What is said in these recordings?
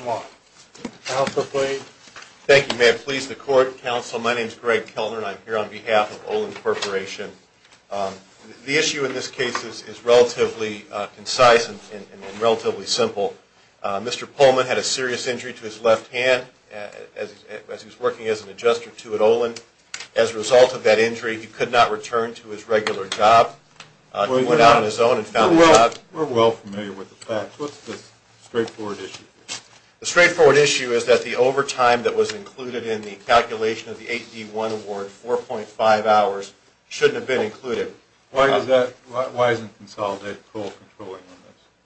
510011. Counsel, please. Thank you. May it please the court, counsel, my name is Greg Kellner and I'm here on behalf of Olin Corporation. The issue in this case is relatively concise and relatively simple. Mr. Pullman had a serious injury to his left hand as he was working as an adjuster to at Olin. As a result of that injury, he could not return to his regular job. He went out on his own and found a job. We're well familiar with the facts. What's this straightforward issue? The straightforward issue is that the overtime that was included in the calculation of the 8D1 award, 4.5 hours, shouldn't have been included. Why isn't consolidated parole controlling on this?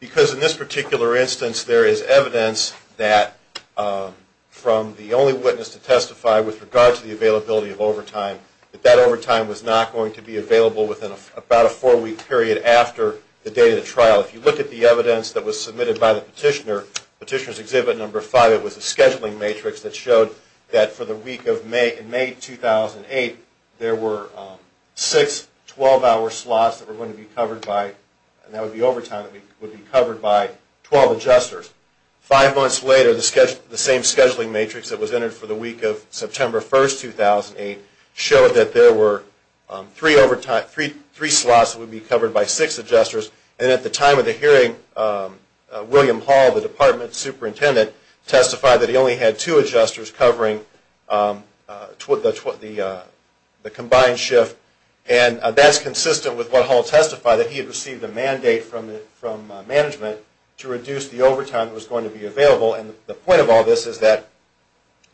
Because in this particular instance, there is evidence that from the only witness to testify with regard to the availability of overtime, that that overtime was not going to be available within about a four week period after the date of the trial. If you look at the evidence that was submitted by the petitioner, Petitioner's Exhibit 5, it was a scheduling matrix that showed that for the week of May, in May 2008, there were six 12 hour slots that were going to be covered by, and that would be overtime, would be covered by 12 adjusters. Five months later, the same scheduling matrix that was entered for the week of September 1st, 2008, showed that there were three slots that would be covered by six adjusters, and at the time of the hearing, William Hall, the department superintendent, testified that he only had two adjusters covering the combined shift, and that's consistent with what Hall testified, that he had received a mandate from management to reduce the overtime that was going to be available, and the point of all this is that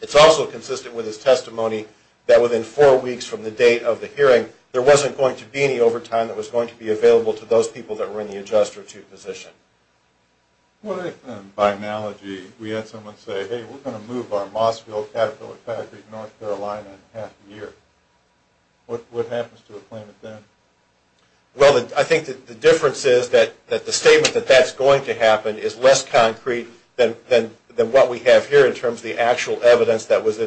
it's also consistent with his testimony that within four weeks from the date of the hearing, there wasn't going to be any overtime that was going to be available to those people that were in the adjuster-to position. What if, by analogy, we had someone say, hey, we're going to move our Mossville Caterpillar factory to North Carolina in half a year, what happens to the claimant then? Well, I think the difference is that the statement that that's going to happen is less concrete than what we have here in terms of the actual evidence that was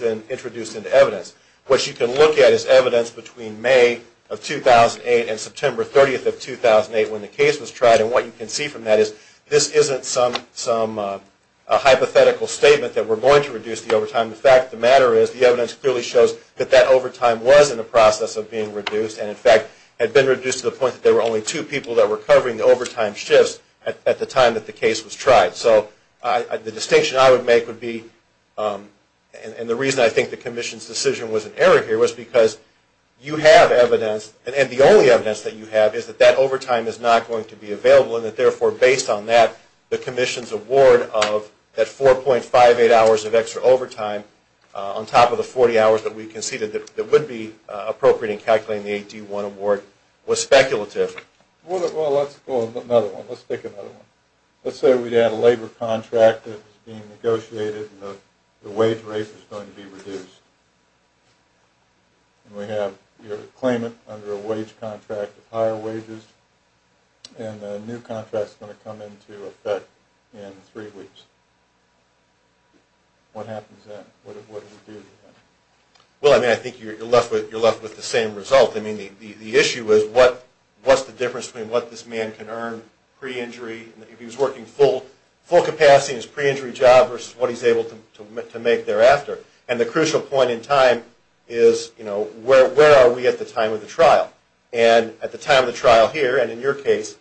then introduced into evidence. What you can look at is evidence between May of 2008 and September 30th of 2008 when the case was tried, and what you can see from that is this isn't some hypothetical statement that we're going to reduce the overtime, in fact, the matter is, the evidence clearly shows that that overtime was in the process of being reduced, and in fact, had been reduced to the point that there were only two people that were covering the overtime shifts at the time that the case was tried. So the distinction I would make would be, and the reason I think the Commission's decision was an error here, was because you have evidence, and the only evidence that you have is that that overtime is not going to be available, and that therefore, based on that, the Commission's award of that 4.58 hours of extra overtime, on top of the 40 hours that we conceded that would be appropriate in calculating the 8D1 award, was speculative. Well, let's go to another one, let's take another one. Let's say we had a labor contract that was being negotiated and the wage rate was going to be reduced, and we have your claimant under a wage contract of higher wages, and the new contract is 3 weeks. What happens then? What do we do? Well, I mean, I think you're left with the same result. I mean, the issue is, what's the difference between what this man can earn pre-injury, if he's working full capacity in his pre-injury job, versus what he's able to make thereafter? And the crucial point in time is, you know, where are we at the time of the trial? And at the time of the trial here, and in your case,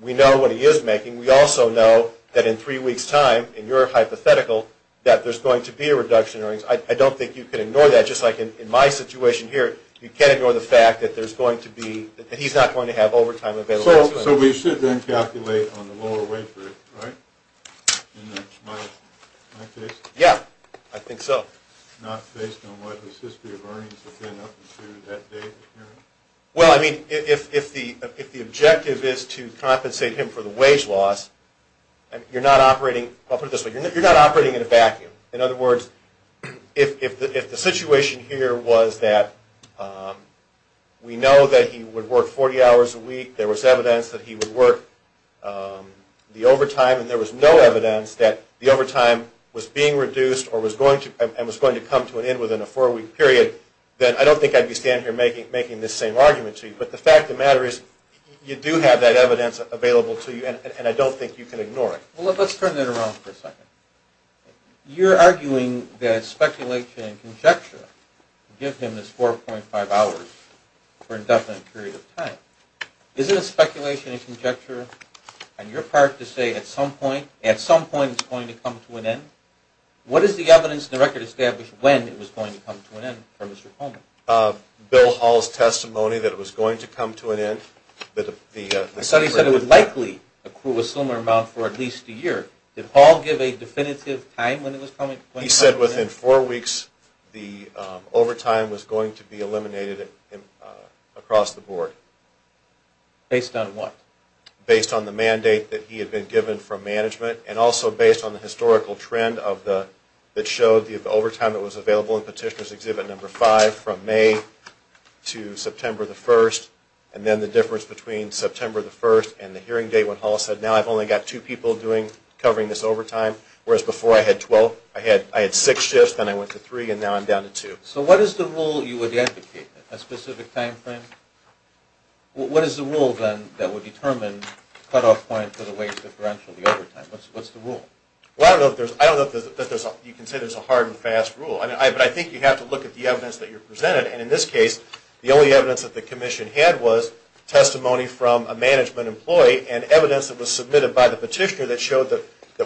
we know what he is making. We also know that in 3 weeks' time, in your hypothetical, that there's going to be a reduction in earnings. I don't think you can ignore that. Just like in my situation here, you can't ignore the fact that there's going to be, that he's not going to have overtime available. So we should then calculate on the lower wage rate, right? In my case? Yeah, I think so. Well, I mean, if the objective is to compensate him for the wage loss, you're not operating, I'll put it this way, you're not operating in a vacuum. In other words, if the situation here was that we know that he would work 40 hours a week, there was evidence that he would work the overtime, and there was no evidence that the overtime was being reduced and was going to come to an end within a 4-week period, then I don't think I'd be standing here making this same argument to you. But the fact of the matter is, you do have that evidence available to you, and I don't think you can ignore it. Well, let's turn that around for a second. You're arguing that speculation and conjecture give him this 4.5 hours for an indefinite period of time. Isn't it speculation and conjecture on your part to say at some point, the overtime is going to come to an end? What is the evidence in the record established when it was going to come to an end for Mr. Coleman? Bill Hall's testimony that it was going to come to an end. The study said it would likely accrue a similar amount for at least a year. Did Hall give a definitive time when it was coming to an end? He said within 4 weeks the overtime was going to be eliminated across the board. Based on what? Based on the mandate that he had been given from management and also based on the historical trend that showed the overtime that was available in Petitioner's Exhibit No. 5 from May to September the 1st, and then the difference between September the 1st and the hearing date when Hall said, now I've only got two people covering this overtime, whereas before I had 12. I had six shifts, then I went to three, and now I'm down to two. So what is the rule you would advocate? A specific time frame? What is the rule then that would determine cutoff point for the wage differential, the overtime? What's the rule? Well, I don't know if you can say there's a hard and fast rule, but I think you have to look at the evidence that you're presented, and in this case the only evidence that the Commission had was testimony from a management employee and evidence that was submitted by the petitioner that showed that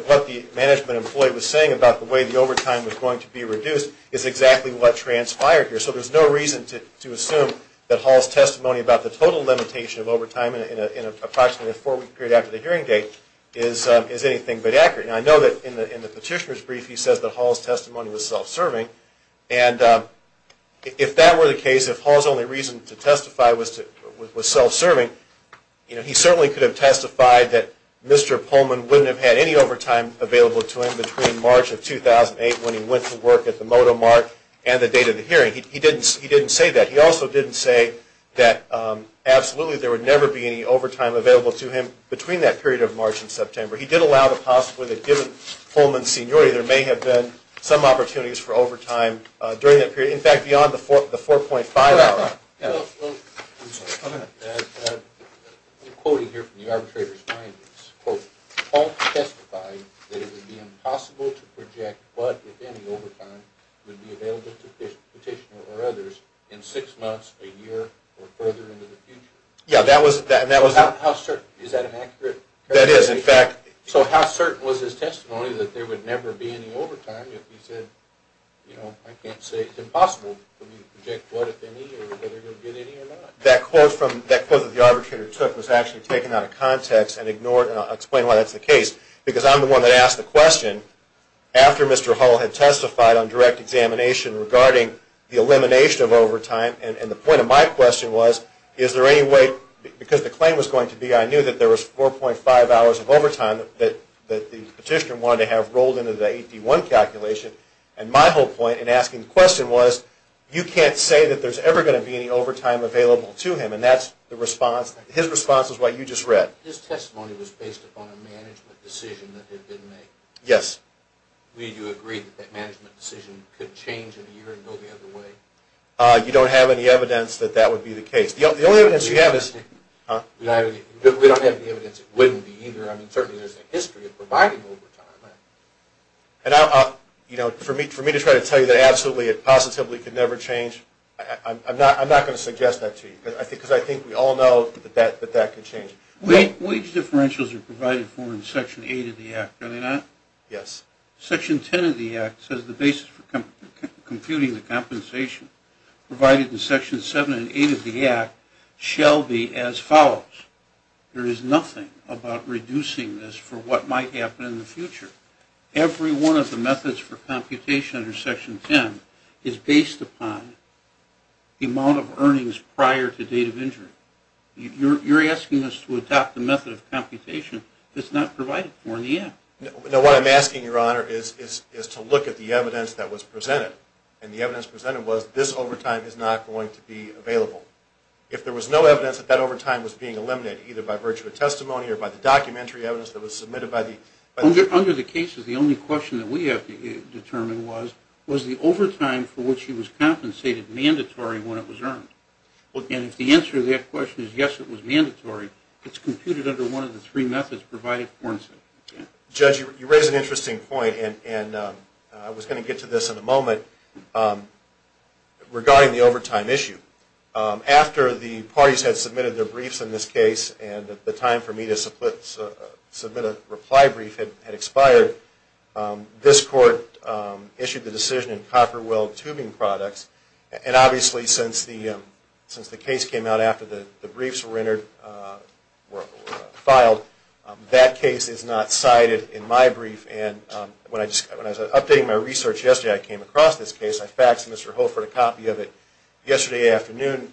what the management employee was saying about the way the overtime was going to be reduced is exactly what transpired here. So there's no reason to assume that Hall's testimony about the total limitation of overtime in approximately a four-week period after the hearing date is anything but accurate. And I know that in the petitioner's brief he says that Hall's testimony was self-serving, and if that were the case, if Hall's only reason to testify was self-serving, he certainly could have testified that Mr. Pullman wouldn't have had any He didn't say that. He also didn't say that absolutely there would never be any overtime available to him between that period of March and September. He did allow the possibility that given Pullman's seniority there may have been some opportunities for overtime during that period, in fact, beyond the 4.5 hour. I'm quoting here from the arbitrator's findings. Hall testified that it would be impossible to project what, if any, overtime would be available to the petitioner or others in six months, a year, or further into the future. Yeah, that was How certain? Is that an accurate That is, in fact So how certain was his testimony that there would never be any overtime if he said, you know, I can't say it's impossible for me to project what, if any, or whether you'll get any or not? That quote that the arbitrator took was actually taken out of context and I'll explain why that's the case. Because I'm the one that asked the question after Mr. Hall had testified on direct examination regarding the elimination of overtime. And the point of my question was, is there any way, because the claim was going to be I knew that there was 4.5 hours of overtime that the petitioner wanted to have rolled into the AP1 calculation. And my whole point in asking the question was, you can't say that there's ever going to be any overtime available to him. And that's the response. His response is what you just read. His testimony was based upon a management decision that had been made. Yes. Do you agree that that management decision could change in a year and go the other way? You don't have any evidence that that would be the case. The only evidence you have is We don't have any evidence it wouldn't be either. I mean, certainly there's a history of providing overtime. And for me to try to tell you that absolutely and positively it could never change, I'm not going to suggest that to you. Because I think we all know that that could change. Wage differentials are provided for in Section 8 of the Act, are they not? Yes. Section 10 of the Act says the basis for computing the compensation provided in Section 7 and 8 of the Act shall be as follows. There is nothing about reducing this for what might happen in the future. Every one of the methods for computation under Section 10 is based upon the date of injury. You're asking us to adopt the method of computation that's not provided for in the Act. No, what I'm asking, Your Honor, is to look at the evidence that was presented. And the evidence presented was this overtime is not going to be available. If there was no evidence that that overtime was being eliminated, either by virtue of testimony or by the documentary evidence that was submitted by the Under the cases, the only question that we have determined was, was the overtime for which he was compensated mandatory when it was earned? And if the answer to that question is yes, it was mandatory, it's computed under one of the three methods provided for in Section 10. Judge, you raise an interesting point, and I was going to get to this in a moment, regarding the overtime issue. After the parties had submitted their briefs in this case and the time for me to submit a reply brief had expired, this Court issued the decision in which, since the case came out after the briefs were filed, that case is not cited in my brief. And when I was updating my research yesterday, I came across this case. I faxed Mr. Ho for a copy of it yesterday afternoon.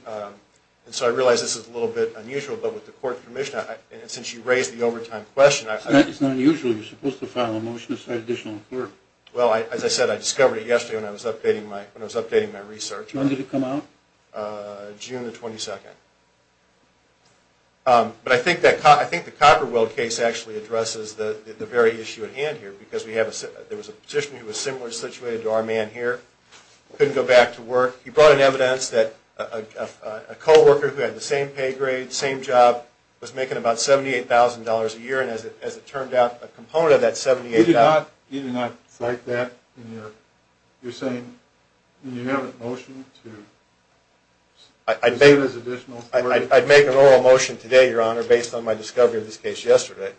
And so I realized this is a little bit unusual. But with the Court's permission, and since you raised the overtime question, I thought... It's not unusual. You're supposed to file a motion to cite additional court. Well, as I said, I discovered it yesterday when I was updating my research. When did it come out? June the 22nd. But I think the Copperweld case actually addresses the very issue at hand here, because there was a petitioner who was similar situated to our man here, couldn't go back to work. He brought in evidence that a co-worker who had the same pay grade, same job, was making about $78,000 a year. And as it turned out, a component of that $78,000... You do not cite that in your... You're saying you have a motion to... I'd make an oral motion today, Your Honor, based on my discovery of this case yesterday.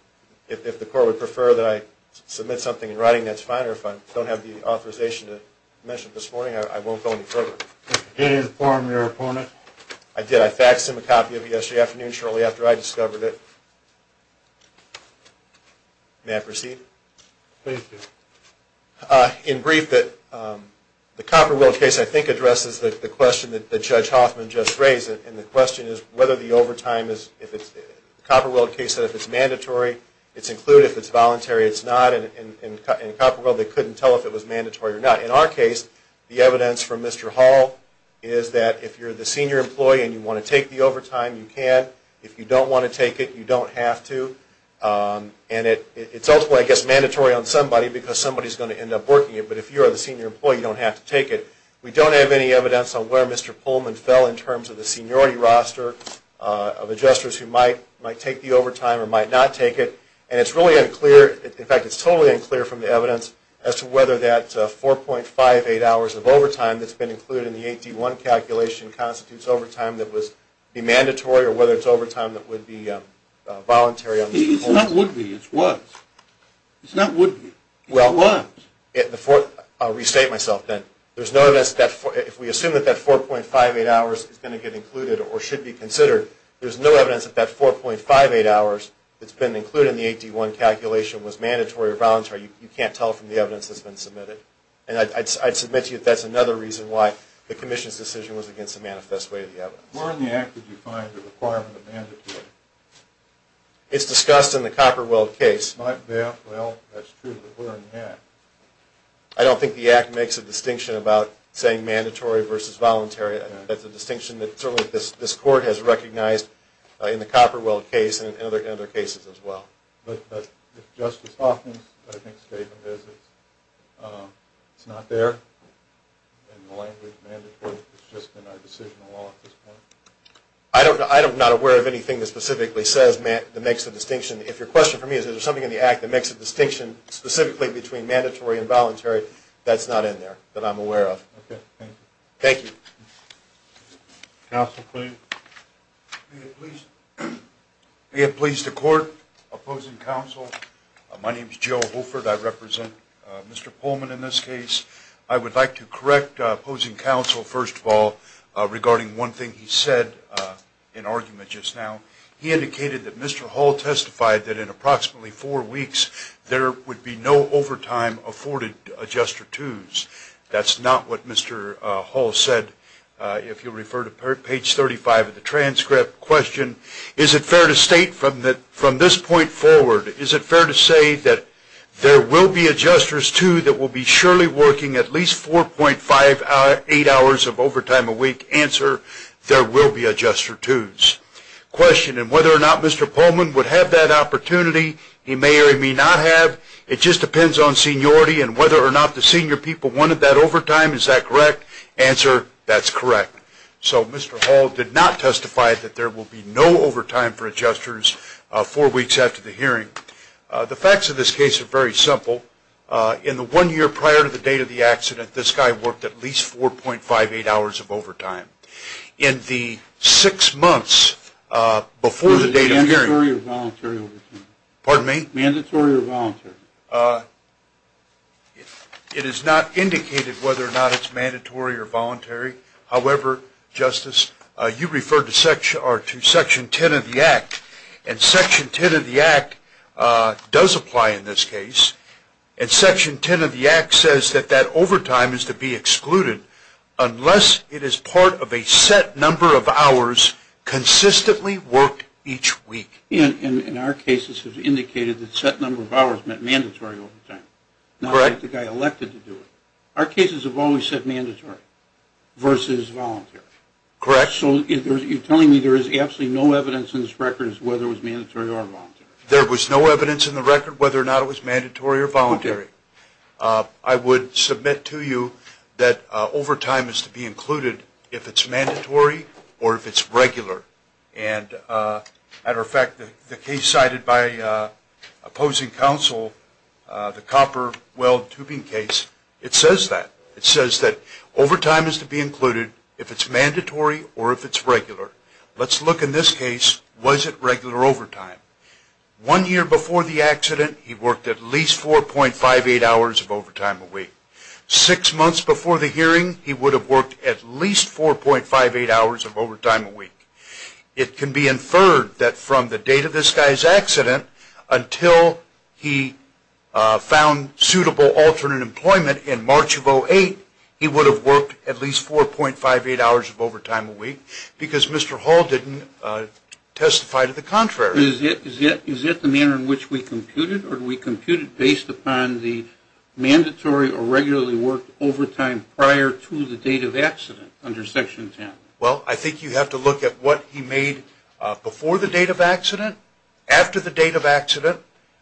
If the Court would prefer that I submit something in writing, that's fine. Or if I don't have the authorization to mention it this morning, I won't go any further. Did you inform your opponent? I did. I faxed him a copy of it yesterday afternoon, shortly after I discovered it. May I proceed? Please do. In brief, the Copperweld case, I think, addresses the question that Judge Hoffman just raised. And the question is whether the overtime is... Copperweld case said if it's mandatory, it's included. If it's voluntary, it's not. And in Copperweld, they couldn't tell if it was mandatory or not. In our case, the evidence from Mr. Hall is that if you're the senior employee and you want to take the overtime, you can. If you don't want to take it, you don't have to. And it's ultimately, I guess, mandatory on somebody because somebody's going to end up working it. But if you're the senior employee, you don't have to take it. We don't have any evidence on where Mr. Pullman fell in terms of the seniority roster of adjusters who might take the overtime or might not take it. And it's really unclear, in fact, it's totally unclear from the evidence, as to whether that 4.58 hours of overtime that's been included in the 8D1 calculation actually constitutes overtime that would be mandatory or whether it's overtime that would be voluntary on Mr. Pullman. It's not would be. It's was. It's not would be. It was. I'll restate myself then. If we assume that that 4.58 hours is going to get included or should be considered, there's no evidence that that 4.58 hours that's been included in the 8D1 calculation was mandatory or voluntary. You can't tell from the evidence that's been submitted. And I'd submit to you that that's another reason why the commission's decision was against the manifest way of the evidence. Where in the act did you find the requirement of mandatory? It's discussed in the Copperweld case. Not there? Well, that's true, but where in the act? I don't think the act makes a distinction about saying mandatory versus voluntary. That's a distinction that certainly this court has recognized in the Copperweld case and in other cases as well. But if Justice Hoffman's statement is it's not there in the language mandatory, it's just in our decision of law at this point? I'm not aware of anything that specifically says that makes a distinction. If your question for me is, is there something in the act that makes a distinction specifically between mandatory and voluntary, that's not in there that I'm aware of. Okay, thank you. Thank you. Counsel, please. May it please the court, opposing counsel, my name is Joe Holford. I represent Mr. Pullman in this case. I would like to correct opposing counsel, first of all, regarding one thing he said in argument just now. He indicated that Mr. Hall testified that in approximately four weeks there would be no overtime afforded adjuster twos. That's not what Mr. Hall said. If you'll refer to page 35 of the transcript, question, is it fair to state from this point forward, is it fair to say that there will be adjusters twos that will be surely working at least 4.8 hours of overtime a week? Answer, there will be adjuster twos. Question, and whether or not Mr. Pullman would have that opportunity, he may or he may not have, it just depends on seniority, and whether or not the senior people wanted that overtime, is that correct? Answer, that's correct. So Mr. Hall did not testify that there will be no overtime for adjusters four weeks after the hearing. The facts of this case are very simple. In the one year prior to the date of the accident, this guy worked at least 4.58 hours of overtime. In the six months before the date of hearing. Was it mandatory or voluntary overtime? Pardon me? Mandatory or voluntary? It is not indicated whether or not it's mandatory or voluntary. However, Justice, you referred to Section 10 of the Act, and Section 10 of the Act does apply in this case, and Section 10 of the Act says that that overtime is to be excluded unless it is part of a set number of hours consistently worked each week. And our cases have indicated that set number of hours meant mandatory overtime, not like the guy elected to do it. Our cases have always said mandatory versus voluntary. Correct. So you're telling me there is absolutely no evidence in this record as to whether it was mandatory or voluntary? There was no evidence in the record whether or not it was mandatory or voluntary. I would submit to you that overtime is to be included if it's mandatory or if it's regular. And as a matter of fact, the case cited by opposing counsel, the copper weld tubing case, it says that. It says that overtime is to be included if it's mandatory or if it's regular. Let's look in this case, was it regular overtime? One year before the accident, he worked at least 4.58 hours of overtime a week. Six months before the hearing, he would have worked at least 4.58 hours of overtime a week. It can be inferred that from the date of this guy's accident until he found suitable alternate employment in March of 2008, he would have worked at least 4.58 hours of overtime a week because Mr. Hall didn't testify to the contrary. Is it the manner in which we computed or do we compute it based upon the mandatory or regularly worked overtime prior to the date of accident under Section 10? Well, I think you have to look at what he made before the date of accident, after the date of accident,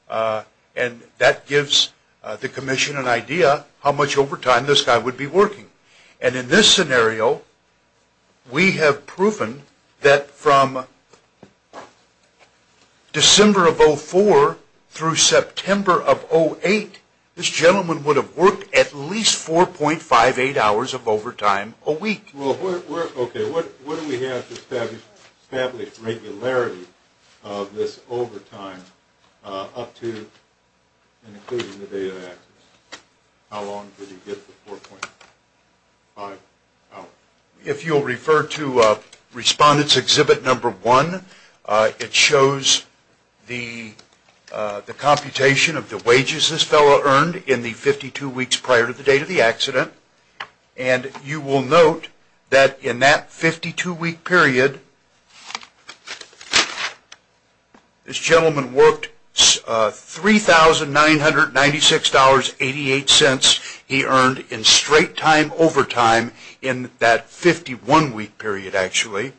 and that gives the commission an idea how much overtime this guy would be working. And in this scenario, we have proven that from December of 2004 through September of 2008, this gentleman would have worked at least 4.58 hours of overtime a week. Okay, what do we have to establish regularity of this overtime up to and including the date of accident? How long did he get the 4.58 hours? If you'll refer to Respondent's Exhibit No. 1, it shows the computation of the wages this fellow earned in the 52 weeks prior to the date of the accident. And you will note that in that 52-week period, this gentleman worked $3,996.88 he earned in straight-time overtime in that 51-week period, actually.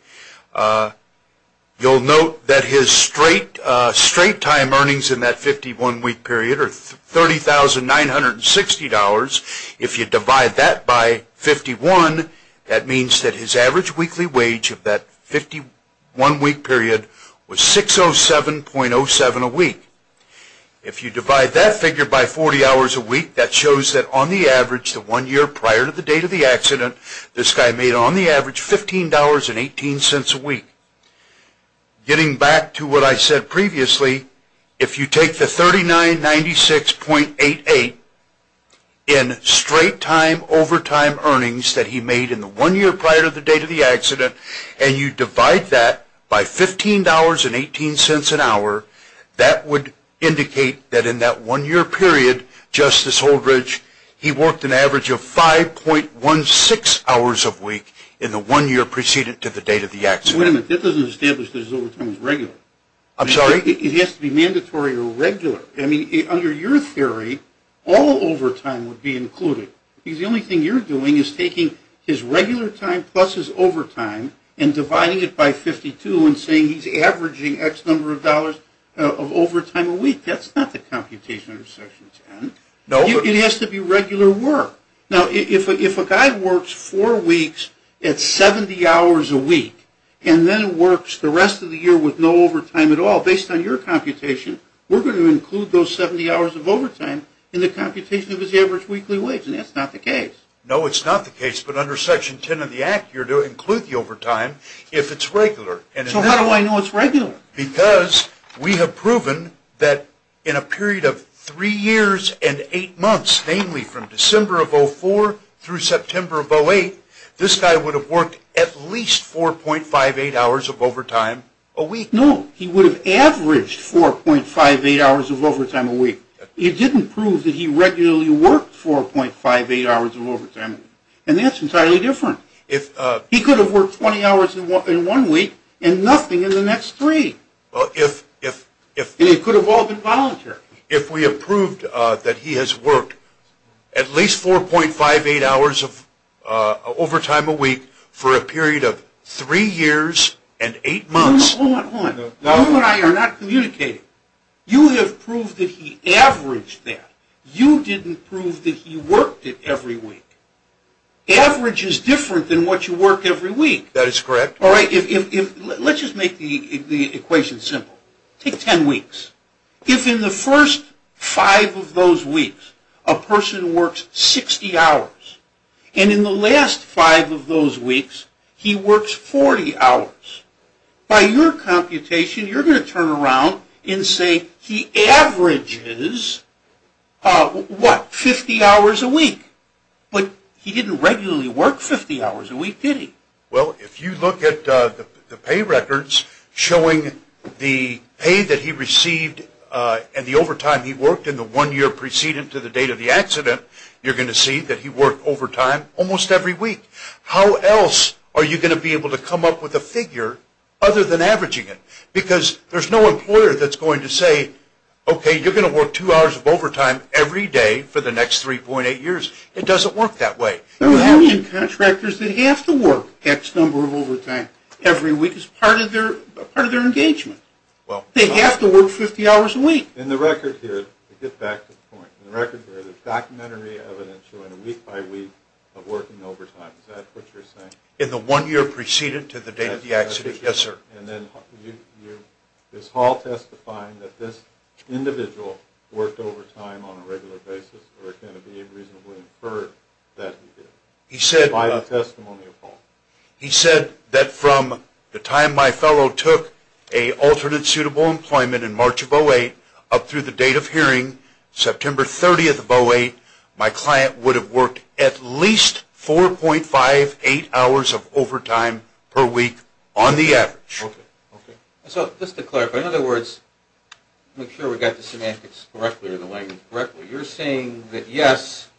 You'll note that his straight-time earnings in that 51-week period are $30,960.00. If you divide that by 51, that means that his average weekly wage of that 51-week period was $607.07 a week. If you divide that figure by 40 hours a week, that shows that on the average, the one year prior to the date of the accident, this guy made on the average $15.18 a week. Getting back to what I said previously, if you take the $3,996.88 in straight-time overtime earnings that he made in the one year prior to the date of the accident, and you divide that by $15.18 an hour, that would indicate that in that one year period, Justice Holdredge, he worked an average of 5.16 hours a week in the one year preceded to the date of the accident. Wait a minute, that doesn't establish that his overtime was regular. I'm sorry? It has to be mandatory or regular. I mean, under your theory, all overtime would be included, because the only thing you're doing is taking his regular time plus his overtime and dividing it by 52 and saying he's averaging X number of dollars of overtime a week. That's not the computation under Section 10. It has to be regular work. Now, if a guy works four weeks at 70 hours a week, and then works the rest of the year with no overtime at all, based on your computation, we're going to include those 70 hours of overtime in the computation of his average weekly wage, and that's not the case. No, it's not the case, but under Section 10 of the Act, you're going to include the overtime if it's regular. So how do I know it's regular? Because we have proven that in a period of three years and eight months, namely from December of 2004 through September of 2008, this guy would have worked at least 4.58 hours of overtime a week. No, he would have averaged 4.58 hours of overtime a week. You didn't prove that he regularly worked 4.58 hours of overtime a week, and that's entirely different. He could have worked 20 hours in one week and nothing in the next three. And it could have all been voluntary. If we have proved that he has worked at least 4.58 hours of overtime a week for a period of three years and eight months. Hold on, hold on. You and I are not communicating. You have proved that he averaged that. You didn't prove that he worked it every week. Average is different than what you work every week. That is correct. All right, let's just make the equation simple. Take 10 weeks. If in the first five of those weeks a person works 60 hours and in the last five of those weeks he works 40 hours, by your computation you're going to turn around and say he averages, what, 50 hours a week. But he didn't regularly work 50 hours a week, did he? Well, if you look at the pay records showing the pay that he received and the overtime he worked in the one year preceding to the date of the accident, you're going to see that he worked overtime almost every week. How else are you going to be able to come up with a figure other than averaging it? Because there's no employer that's going to say, okay, you're going to work two hours of overtime every day for the next 3.8 years. It doesn't work that way. There are contractors that have to work X number of overtime every week as part of their engagement. They have to work 50 hours a week. In the record here, to get back to the point, in the record there is documentary evidence showing a week-by-week of working overtime. Is that what you're saying? In the one year preceding to the date of the accident, yes, sir. And then is Hall testifying that this individual worked overtime on a regular basis or can it be reasonably inferred that he did by the testimony of Hall? He said that from the time my fellow took an alternate suitable employment in March of 2008 up through the date of hearing, September 30th of 2008, my client would have worked at least 4.58 hours of overtime per week on the average. Okay. So just to clarify, in other words, make sure we got the semantics correctly or the language correctly, but you're saying that, yes,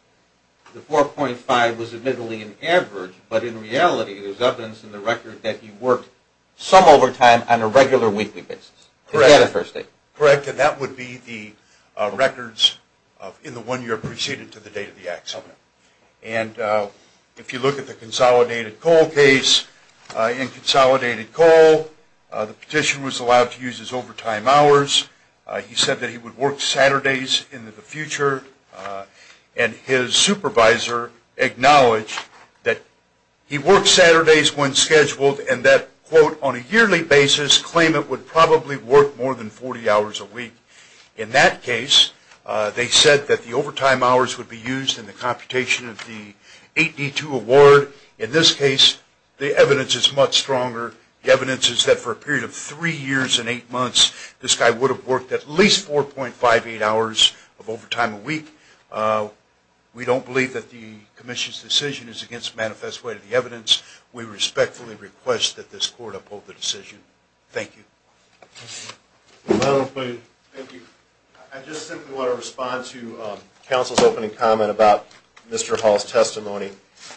the 4.5 was admittedly an average, but in reality there's evidence in the record that he worked some overtime on a regular weekly basis. Correct. Is that a first statement? Correct. And that would be the records in the one year preceding to the date of the accident. And if you look at the consolidated coal case, in consolidated coal the petition was allowed to use his overtime hours. He said that he would work Saturdays into the future. And his supervisor acknowledged that he worked Saturdays when scheduled and that, quote, on a yearly basis claim it would probably work more than 40 hours a week. In that case, they said that the overtime hours would be used in the computation of the 8D2 award. In this case, the evidence is much stronger. The evidence is that for a period of three years and eight months, this guy would have worked at least 4.58 hours of overtime a week. We don't believe that the commission's decision is against the manifest way of the evidence. We respectfully request that this court uphold the decision. Thank you. Thank you. I just simply want to respond to counsel's opening comment about Mr. Hall's testimony.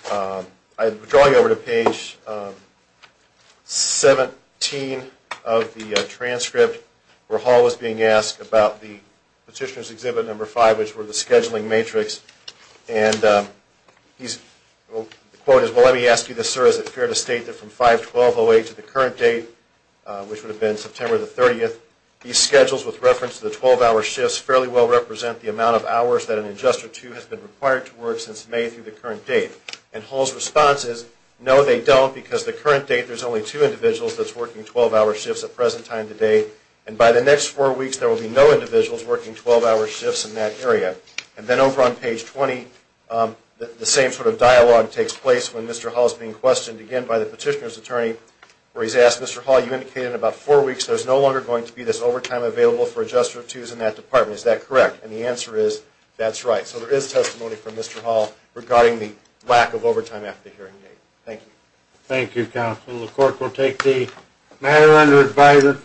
I draw you over to page 17 of the transcript where Hall was being asked about the petitioner's exhibit number 5, which were the scheduling matrix. And the quote is, Well, let me ask you this, sir, is it fair to state that from 5-12-08 to the current date, which would have been September the 30th, these schedules with reference to the 12-hour shifts fairly well represent the amount of hours that an adjuster of two has been required to work since May through the current date. And Hall's response is, no, they don't, because the current date there's only two individuals that's working 12-hour shifts at present time today, and by the next four weeks there will be no individuals working 12-hour shifts in that area. And then over on page 20, the same sort of dialogue takes place when Mr. Hall is being questioned again by the petitioner's attorney where he's asked, Mr. Hall, you indicated in about four weeks there's no longer going to be this overtime available for adjuster of twos in that department, is that correct? And the answer is, that's right. So there is testimony from Mr. Hall regarding the lack of overtime after the hearing date. Thank you. Thank you, counsel. The court will take the matter under advisory.